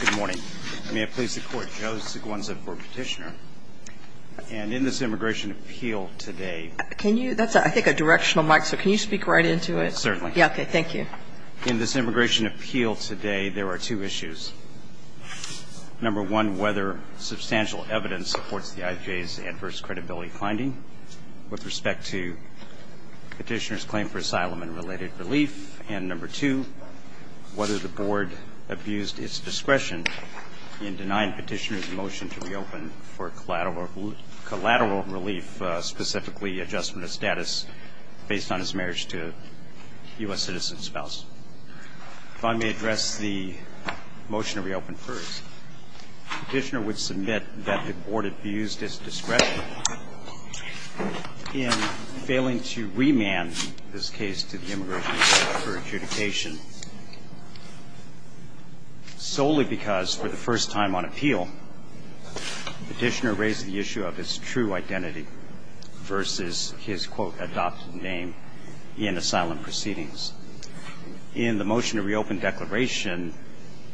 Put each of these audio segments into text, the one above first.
Good morning. May it please the court. Joe Sigonza for Petitioner and in this immigration appeal today. Can you, that's I think a directional mic, so can you speak right into it? Certainly. Yeah, okay, thank you. In this immigration appeal today there are two issues. Number one, whether substantial evidence supports the IJ's adverse credibility finding with respect to petitioner's claim for discretion in denying petitioner's motion to reopen for collateral relief, specifically adjustment of status based on his marriage to a U.S. citizen spouse. If I may address the motion to reopen first. Petitioner would submit that the board abused its discretion in failing to remand this case to the immigration court for adjudication, solely because for the first time on appeal, petitioner raised the issue of his true identity versus his, quote, adopted name in asylum proceedings. In the motion to reopen declaration,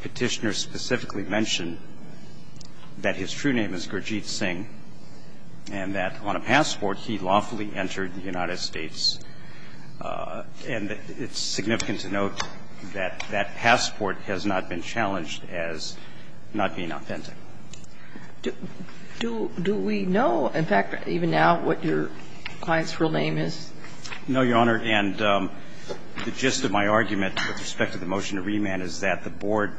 petitioner specifically mentioned that his true name is Gurjeet Singh and that on passport he lawfully entered the United States. And it's significant to note that that passport has not been challenged as not being authentic. Do we know, in fact, even now, what your client's real name is? No, Your Honor, and the gist of my argument with respect to the motion to remand is that the board,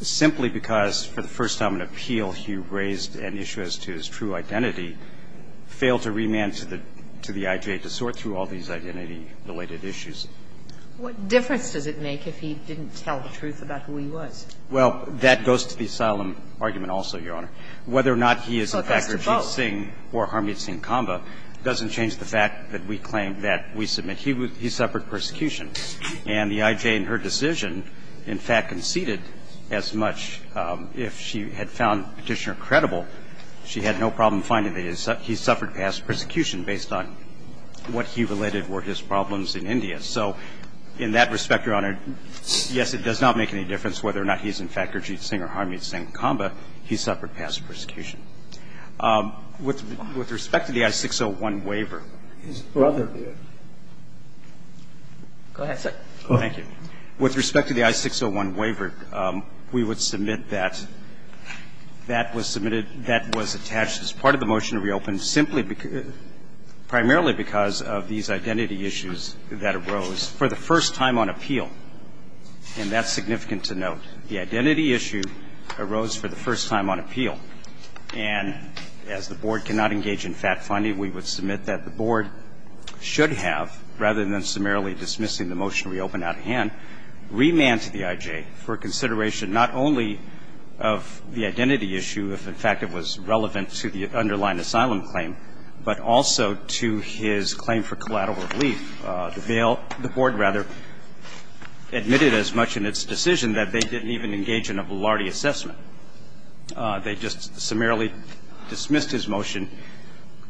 simply because for the first time on appeal he raised an issue as to his true identity, failed to remand to the I.G.A. to sort through all these identity-related issues. What difference does it make if he didn't tell the truth about who he was? Well, that goes to the asylum argument also, Your Honor. Whether or not he is Gurjeet Singh or Harmeet Singh Kamba doesn't change the fact that we claim that we submit he suffered persecution. And the I.G.A. in her decision, in fact, conceded as much. If she had found Petitioner credible, she had no problem finding that he suffered past persecution based on what he related were his problems in India. So in that respect, Your Honor, yes, it does not make any difference whether or not he is, in fact, Gurjeet Singh or Harmeet Singh Kamba. He suffered past persecution. With respect to the I-601 waiver. His brother did. Go ahead, sir. Thank you. With respect to the I-601 waiver, we would submit that that was submitted that was attached as part of the motion to reopen simply primarily because of these identity issues that arose for the first time on appeal. And that's significant to note. The identity issue arose for the first time on appeal. And as the Board cannot engage in fact-finding, we would submit that the Board should have, rather than summarily dismissing the motion to reopen out of hand, remand to the I.G.A. for consideration not only of the identity issue, if, in fact, it was relevant to the underlying asylum claim, but also to his claim for collateral relief. The Bail – the Board, rather, admitted as much in its decision that they didn't even engage in a Velarde assessment. They just summarily dismissed his motion to reopen,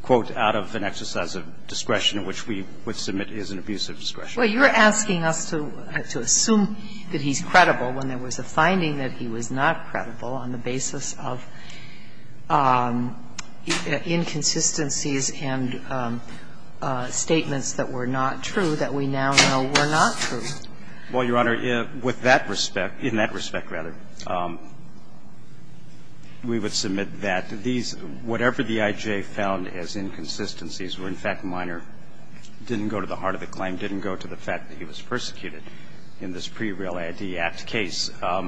quote, out of an exercise of discretion, which we would submit is an abuse of discretion. Well, you're asking us to assume that he's credible when there was a finding that he was not credible on the basis of inconsistencies and statements that were not true that we now know were not true. Well, Your Honor, with that respect – in that respect, rather, we would submit that these – whatever the I.G.A. found as inconsistencies were, in fact, minor – didn't go to the heart of the claim, didn't go to the fact that he was persecuted in this pre-Real ID Act case. Her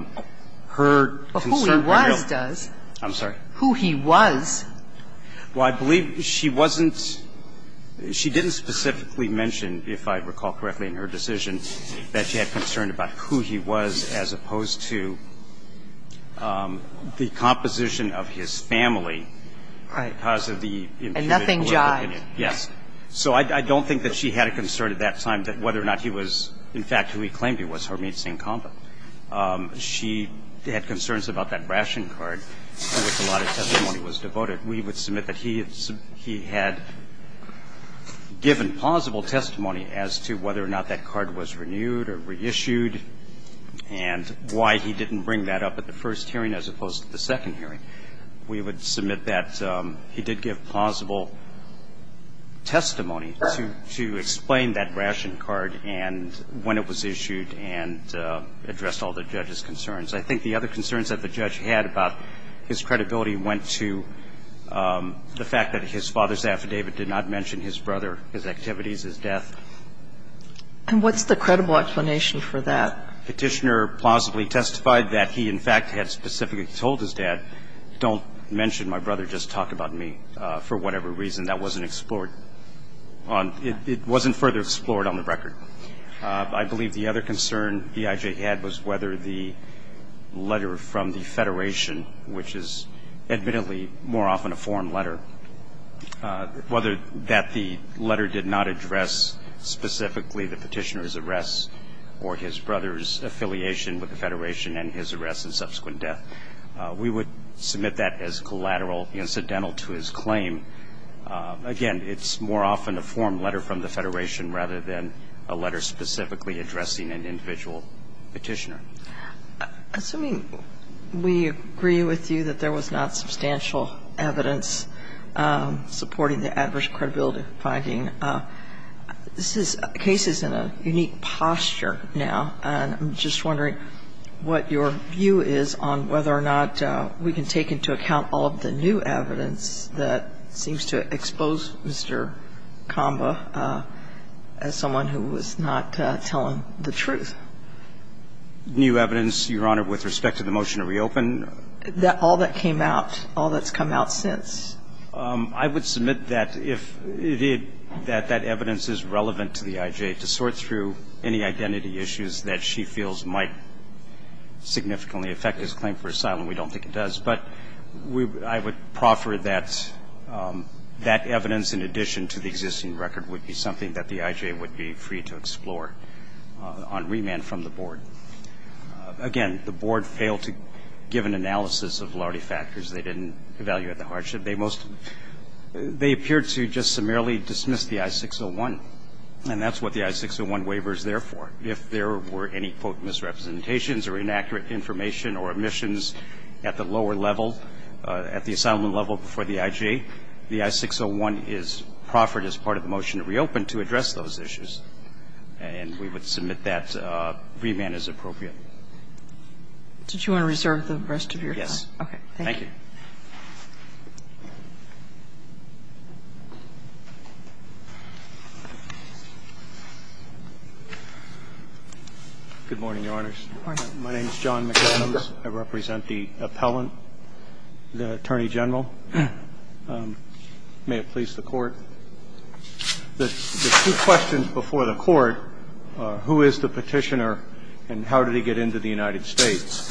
concern was real. Well, who he was does. I'm sorry? Who he was. Well, I believe she wasn't – she didn't specifically mention, if I recall correctly in her decision, that she had concern about who he was as opposed to the composition of his family because of the individual. Right. And nothing jived. Yes. So I don't think that she had a concern at that time that whether or not he was – in fact, who he claimed he was, Harmit Singh Kamba. She had concerns about that ration card, which a lot of testimony was devoted. We would submit that he had given plausible testimony as to whether or not that card was renewed or reissued and why he didn't bring that up at the first hearing as opposed to the second hearing. We would submit that he did give plausible testimony to explain that ration card and when it was issued and addressed all the judge's concerns. I think the other concerns that the judge had about his credibility went to the fact that his father's affidavit did not mention his brother, his activities, his death. And what's the credible explanation for that? Petitioner plausibly testified that he, in fact, had specifically told his dad, don't mention my brother, just talk about me, for whatever reason. That wasn't explored on – it wasn't further explored on the record. I believe the other concern that D.I.J. had was whether the letter from the Federation, which is admittedly more often a form letter, whether that the letter did not address specifically the petitioner's arrest or his brother's affiliation with the Federation and his arrest and subsequent death. We would submit that as collateral incidental to his claim. Again, it's more often a form letter from the Federation rather than a letter specifically addressing an individual petitioner. Assuming we agree with you that there was not substantial evidence supporting the adverse credibility finding, this is cases in a unique posture now, and I'm just wondering what your view is on whether or not we can take into account all of the new evidence that seems to expose Mr. Comba as someone who was not telling the truth New evidence, Your Honor, with respect to the motion to reopen? All that came out, all that's come out since. I would submit that if it – that that evidence is relevant to D.I.J. to sort through any identity issues that she feels might significantly affect his claim for asylum. We don't think it does. But I would proffer that that evidence in addition to the on remand from the board. Again, the board failed to give an analysis of lawyerly factors. They didn't evaluate the hardship. They most – they appeared to just summarily dismiss the I-601, and that's what the I-601 waiver is there for. If there were any, quote, misrepresentations or inaccurate information or omissions at the lower level, at the asylum level before D.I.J., the I-601 is proffered as part of the motion to reopen to address those issues. And we would submit that remand as appropriate. Did you want to reserve the rest of your time? Yes. Okay. Thank you. Good morning, Your Honors. Good morning. My name is John McAllen. I represent the appellant, the Attorney General. May it please the Court. The two questions before the Court are who is the petitioner and how did he get into the United States?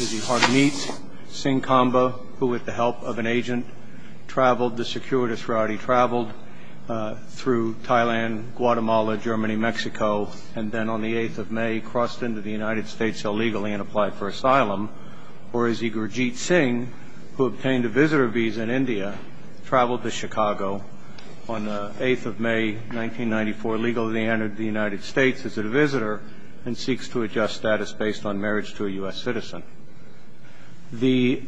Is he Harmeet Singh Kamba, who, with the help of an agent, traveled – the securitist who already traveled through Thailand, Guatemala, Germany, Mexico, and then on the 8th of May crossed into the United States illegally and applied for asylum? Or is he Gurjeet Singh, who obtained a visitor visa in India, traveled to Chicago, on the 8th of May, 1994, illegally entered the United States as a visitor and seeks to adjust status based on marriage to a U.S. citizen? The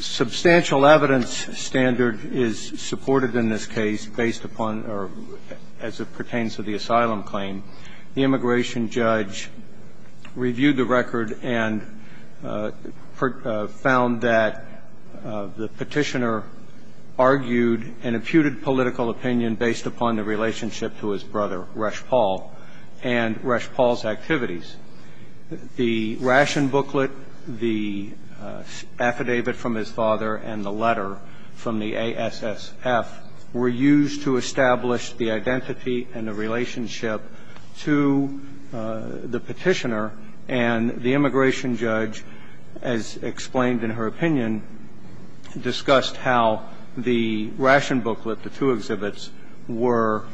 substantial evidence standard is supported in this case based upon, or as it pertains to the asylum claim, the immigration judge reviewed the record and found that the petitioner was Harmeet Singh Kamba. The petitioner's claim to be Harmeet Singh Kamba, who was a U.S. citizen, was a very political opinion based upon the relationship to his brother, Resh Paul, and Resh Paul's activities. The ration booklet, the affidavit from his father, and the letter from the A.S.S.F. were used to establish the identity and the relationship to the petitioner. And the immigration judge, as explained in her opinion, discussed how the ration booklet, the two exhibits, were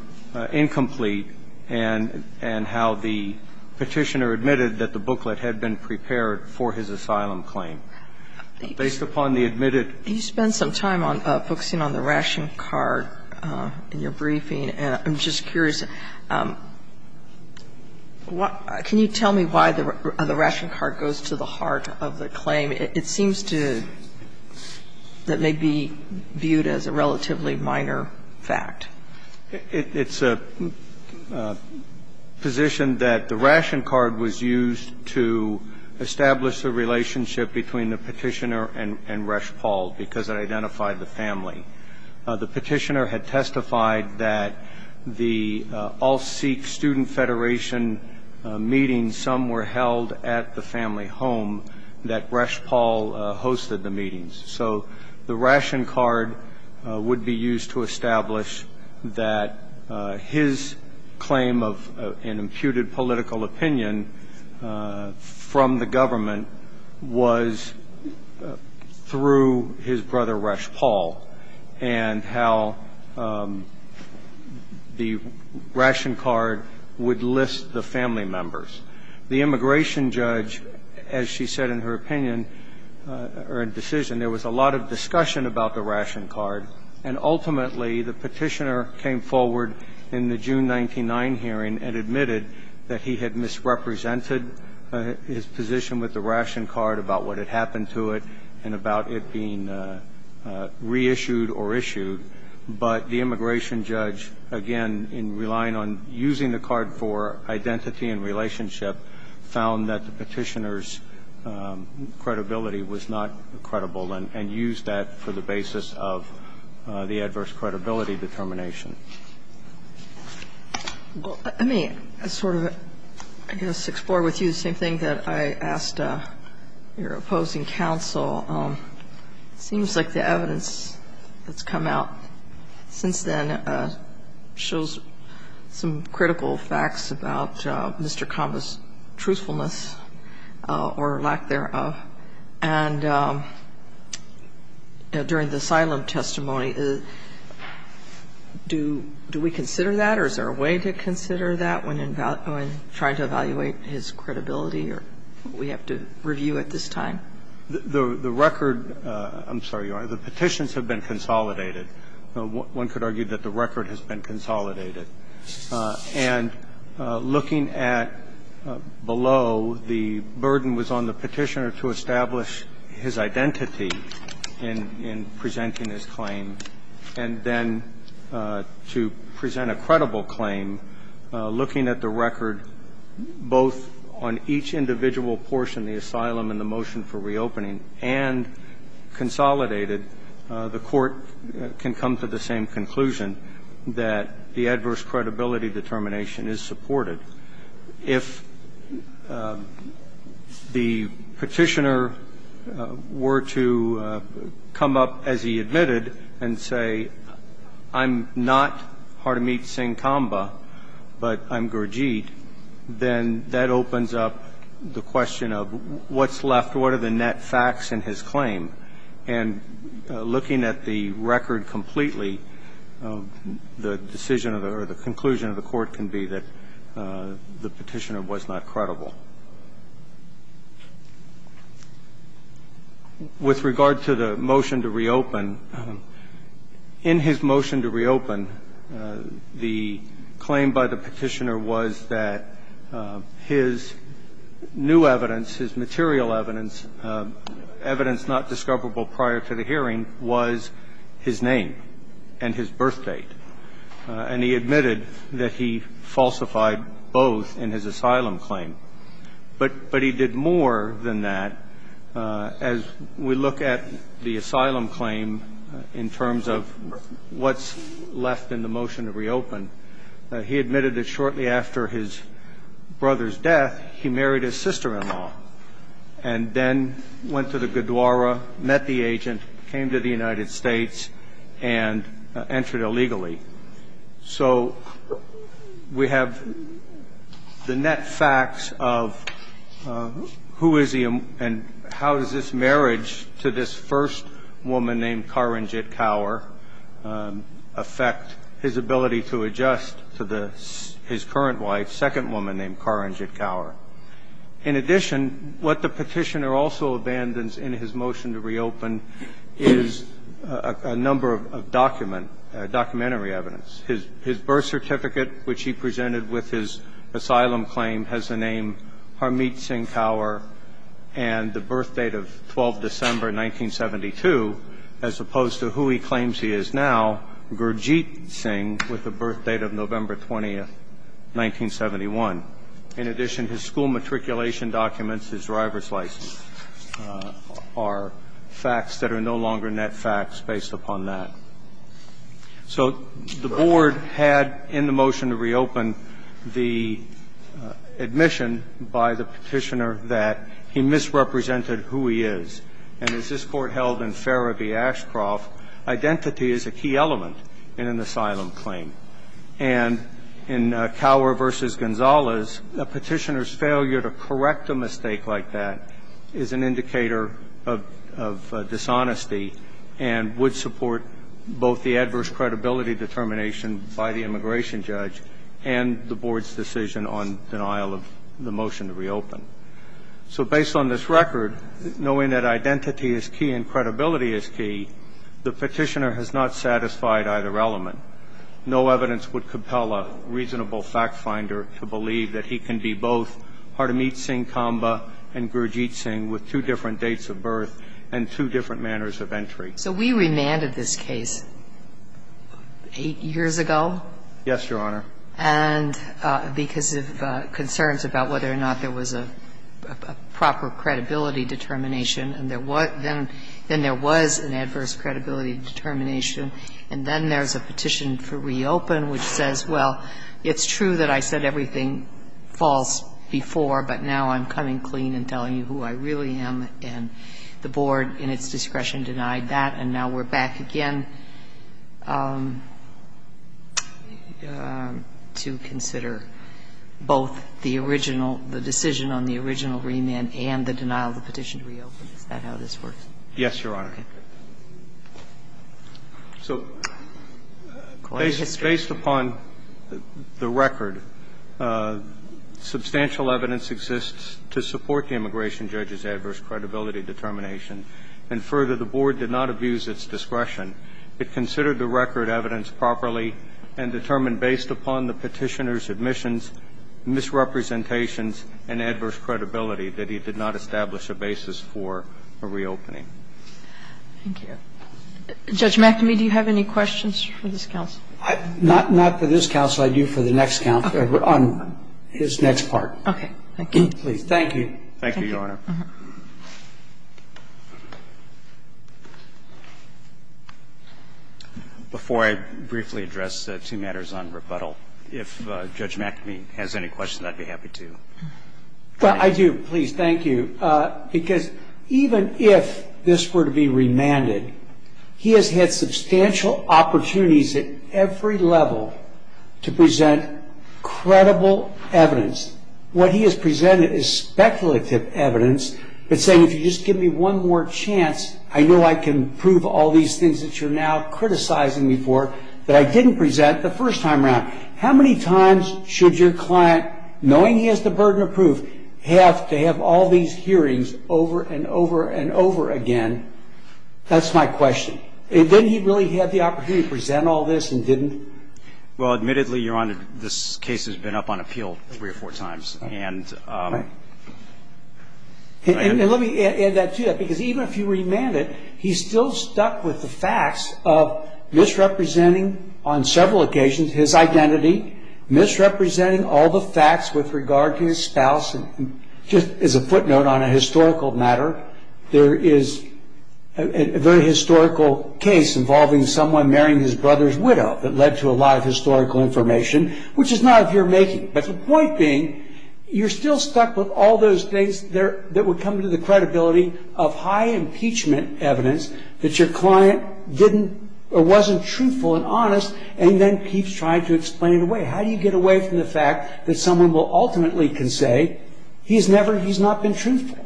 incomplete and how the petitioner admitted that the booklet had been prepared for his asylum claim. Based upon the admitted ---- Sotomayor, in your briefing, I'm just curious, what ---- can you tell me why the ration card goes to the heart of the claim? It seems to ---- that may be viewed as a relatively minor fact. It's a position that the ration card was used to establish the relationship between the petitioner and Resh Paul because it identified the family. The petitioner had testified that the All Sikh Student Federation meetings, some were held at the family home, that Resh Paul hosted the meetings. So the ration card would be used to establish that his claim of an imputed political opinion from the government was through his brother, Resh Paul, and how the ration card would list the family members. The immigration judge, as she said in her opinion or decision, there was a lot of discussion about the ration card, and ultimately the petitioner came forward in the case and misrepresented his position with the ration card about what had happened to it and about it being reissued or issued. But the immigration judge, again, in relying on using the card for identity and relationship, found that the petitioner's credibility was not credible and used that for the basis of the adverse credibility determination. Well, let me sort of, I guess, explore with you the same thing that I asked your opposing counsel. It seems like the evidence that's come out since then shows some critical facts about Mr. Kamba's truthfulness or lack thereof. And during the asylum testimony, do we consider that or is there a way to consider that when trying to evaluate his credibility or what we have to review at this time? The record – I'm sorry, Your Honor. The petitions have been consolidated. One could argue that the record has been consolidated. And looking at below, the burden was on the petitioner to establish his identity in presenting his claim, and then to present a credible claim, looking at the record both on each individual portion, the asylum and the motion for reopening, and consolidated, the court can come to the same conclusion that the adverse credibility determination is supported. If the petitioner were to come up, as he admitted, and say, I'm not Hardimit Singh Kamba, but I'm Gurjeet, then that opens up the question of what's left? What are the net facts in his claim? And looking at the record completely, the decision or the conclusion of the court can be that the petitioner was not credible. With regard to the motion to reopen, in his motion to reopen, the claim by the petitioner his new evidence, his material evidence, evidence not discoverable prior to the hearing was his name and his birth date. And he admitted that he falsified both in his asylum claim. But he did more than that. As we look at the asylum claim in terms of what's left in the motion to reopen, he admitted that shortly after his brother's death, he married his sister-in-law and then went to the Gurdwara, met the agent, came to the United States, and entered illegally. So we have the net facts of who is he and how is this marriage to this first woman named Karanjit Kaur affect his ability to adjust to his current wife, second woman named Karanjit Kaur. In addition, what the petitioner also abandons in his motion to reopen is a number of documentary evidence. His birth certificate, which he presented with his asylum claim, has the name Harmeet Singh Kaur and the birth date of 12 December 1972, as opposed to who he claims he is now, Gurdjit Singh, with the birth date of November 20, 1971. In addition, his school matriculation documents, his driver's license, are facts that are no longer net facts based upon that. So the board had in the motion to reopen the admission by the petitioner that he misrepresented who he is. And as this Court held in Farra v. Ashcroft, identity is a key element in an asylum claim. And in Kaur v. Gonzalez, a petitioner's failure to correct a mistake like that is an indicator of dishonesty and would support both the adverse credibility determination by the immigration judge and the board's decision on denial of the motion to reopen. So based on this record, knowing that identity is key and credibility is key, the petitioner has not satisfied either element. No evidence would compel a reasonable factfinder to believe that he can be both Harmeet Singh Kamba and Gurdjit Singh with two different dates of birth and two different manners of entry. So we remanded this case 8 years ago. Yes, Your Honor. And because of concerns about whether or not there was a proper credibility determination, and there was an adverse credibility determination. And then there's a petition for reopen which says, well, it's true that I said everything false before, but now I'm coming clean and telling you who I really am. And the board, in its discretion, denied that. And now we're back again to consider both the original, the decision on the original remand and the denial of the petition to reopen. Is that how this works? Yes, Your Honor. Okay. So based upon the record, substantial evidence exists to support the immigration judge's adverse credibility determination. And further, the board did not abuse its discretion. It considered the record evidence properly and determined based upon the petitioner's admissions, misrepresentations and adverse credibility that he did not establish a basis for a reopening. Thank you. Judge McAmey, do you have any questions for this counsel? Not for this counsel. I do for the next counsel, on his next part. Okay. Thank you. Please. Thank you. Thank you, Your Honor. Before I briefly address two matters on rebuttal, if Judge McAmey has any questions, I'd be happy to. Well, I do. Please, thank you. Because even if this were to be remanded, he has had substantial opportunities at every level to present credible evidence. What he has presented is speculative evidence that's saying, if you just give me one more chance, I know I can prove all these things that you're now criticizing me for that I didn't present the first time around. How many times should your client, knowing he has the burden of proof, have to have all these hearings over and over and over again? That's my question. Didn't he really have the opportunity to present all this and didn't? Well, admittedly, Your Honor, this case has been up on appeal three or four times. And let me add that to that. Because even if you remand it, he's still stuck with the facts of misrepresenting on several occasions his identity, misrepresenting all the facts with regard to his spouse. Just as a footnote on a historical matter, there is a very historical case involving someone marrying his brother's widow that led to a lot of historical information, which is not of your making. But the point being, you're still stuck with all those things that would come to the credibility of high impeachment evidence that your client didn't or wasn't truthful and honest, and then keeps trying to explain it away. How do you get away from the fact that someone will ultimately can say he's never he's not been truthful?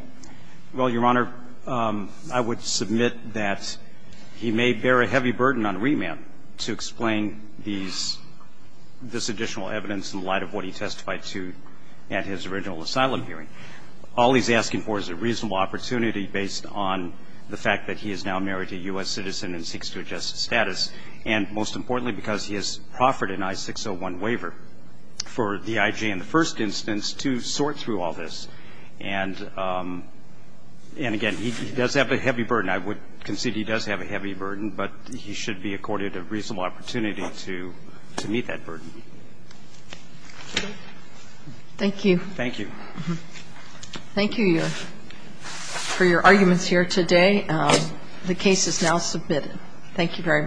Well, Your Honor, I would submit that he may bear a heavy burden on remand to explain this additional evidence in light of what he testified to at his original asylum hearing. All he's asking for is a reasonable opportunity based on the fact that he is now married to a U.S. citizen and seeks to adjust his status, and most importantly, because he has proffered an I-601 waiver for the IJ in the first instance to sort through all this. And again, he does have a heavy burden. I would concede he does have a heavy burden, but he should be accorded a reasonable opportunity to meet that burden. Thank you. Thank you. Thank you, Your Honor, for your arguments here today. The case is now submitted. Thank you very much.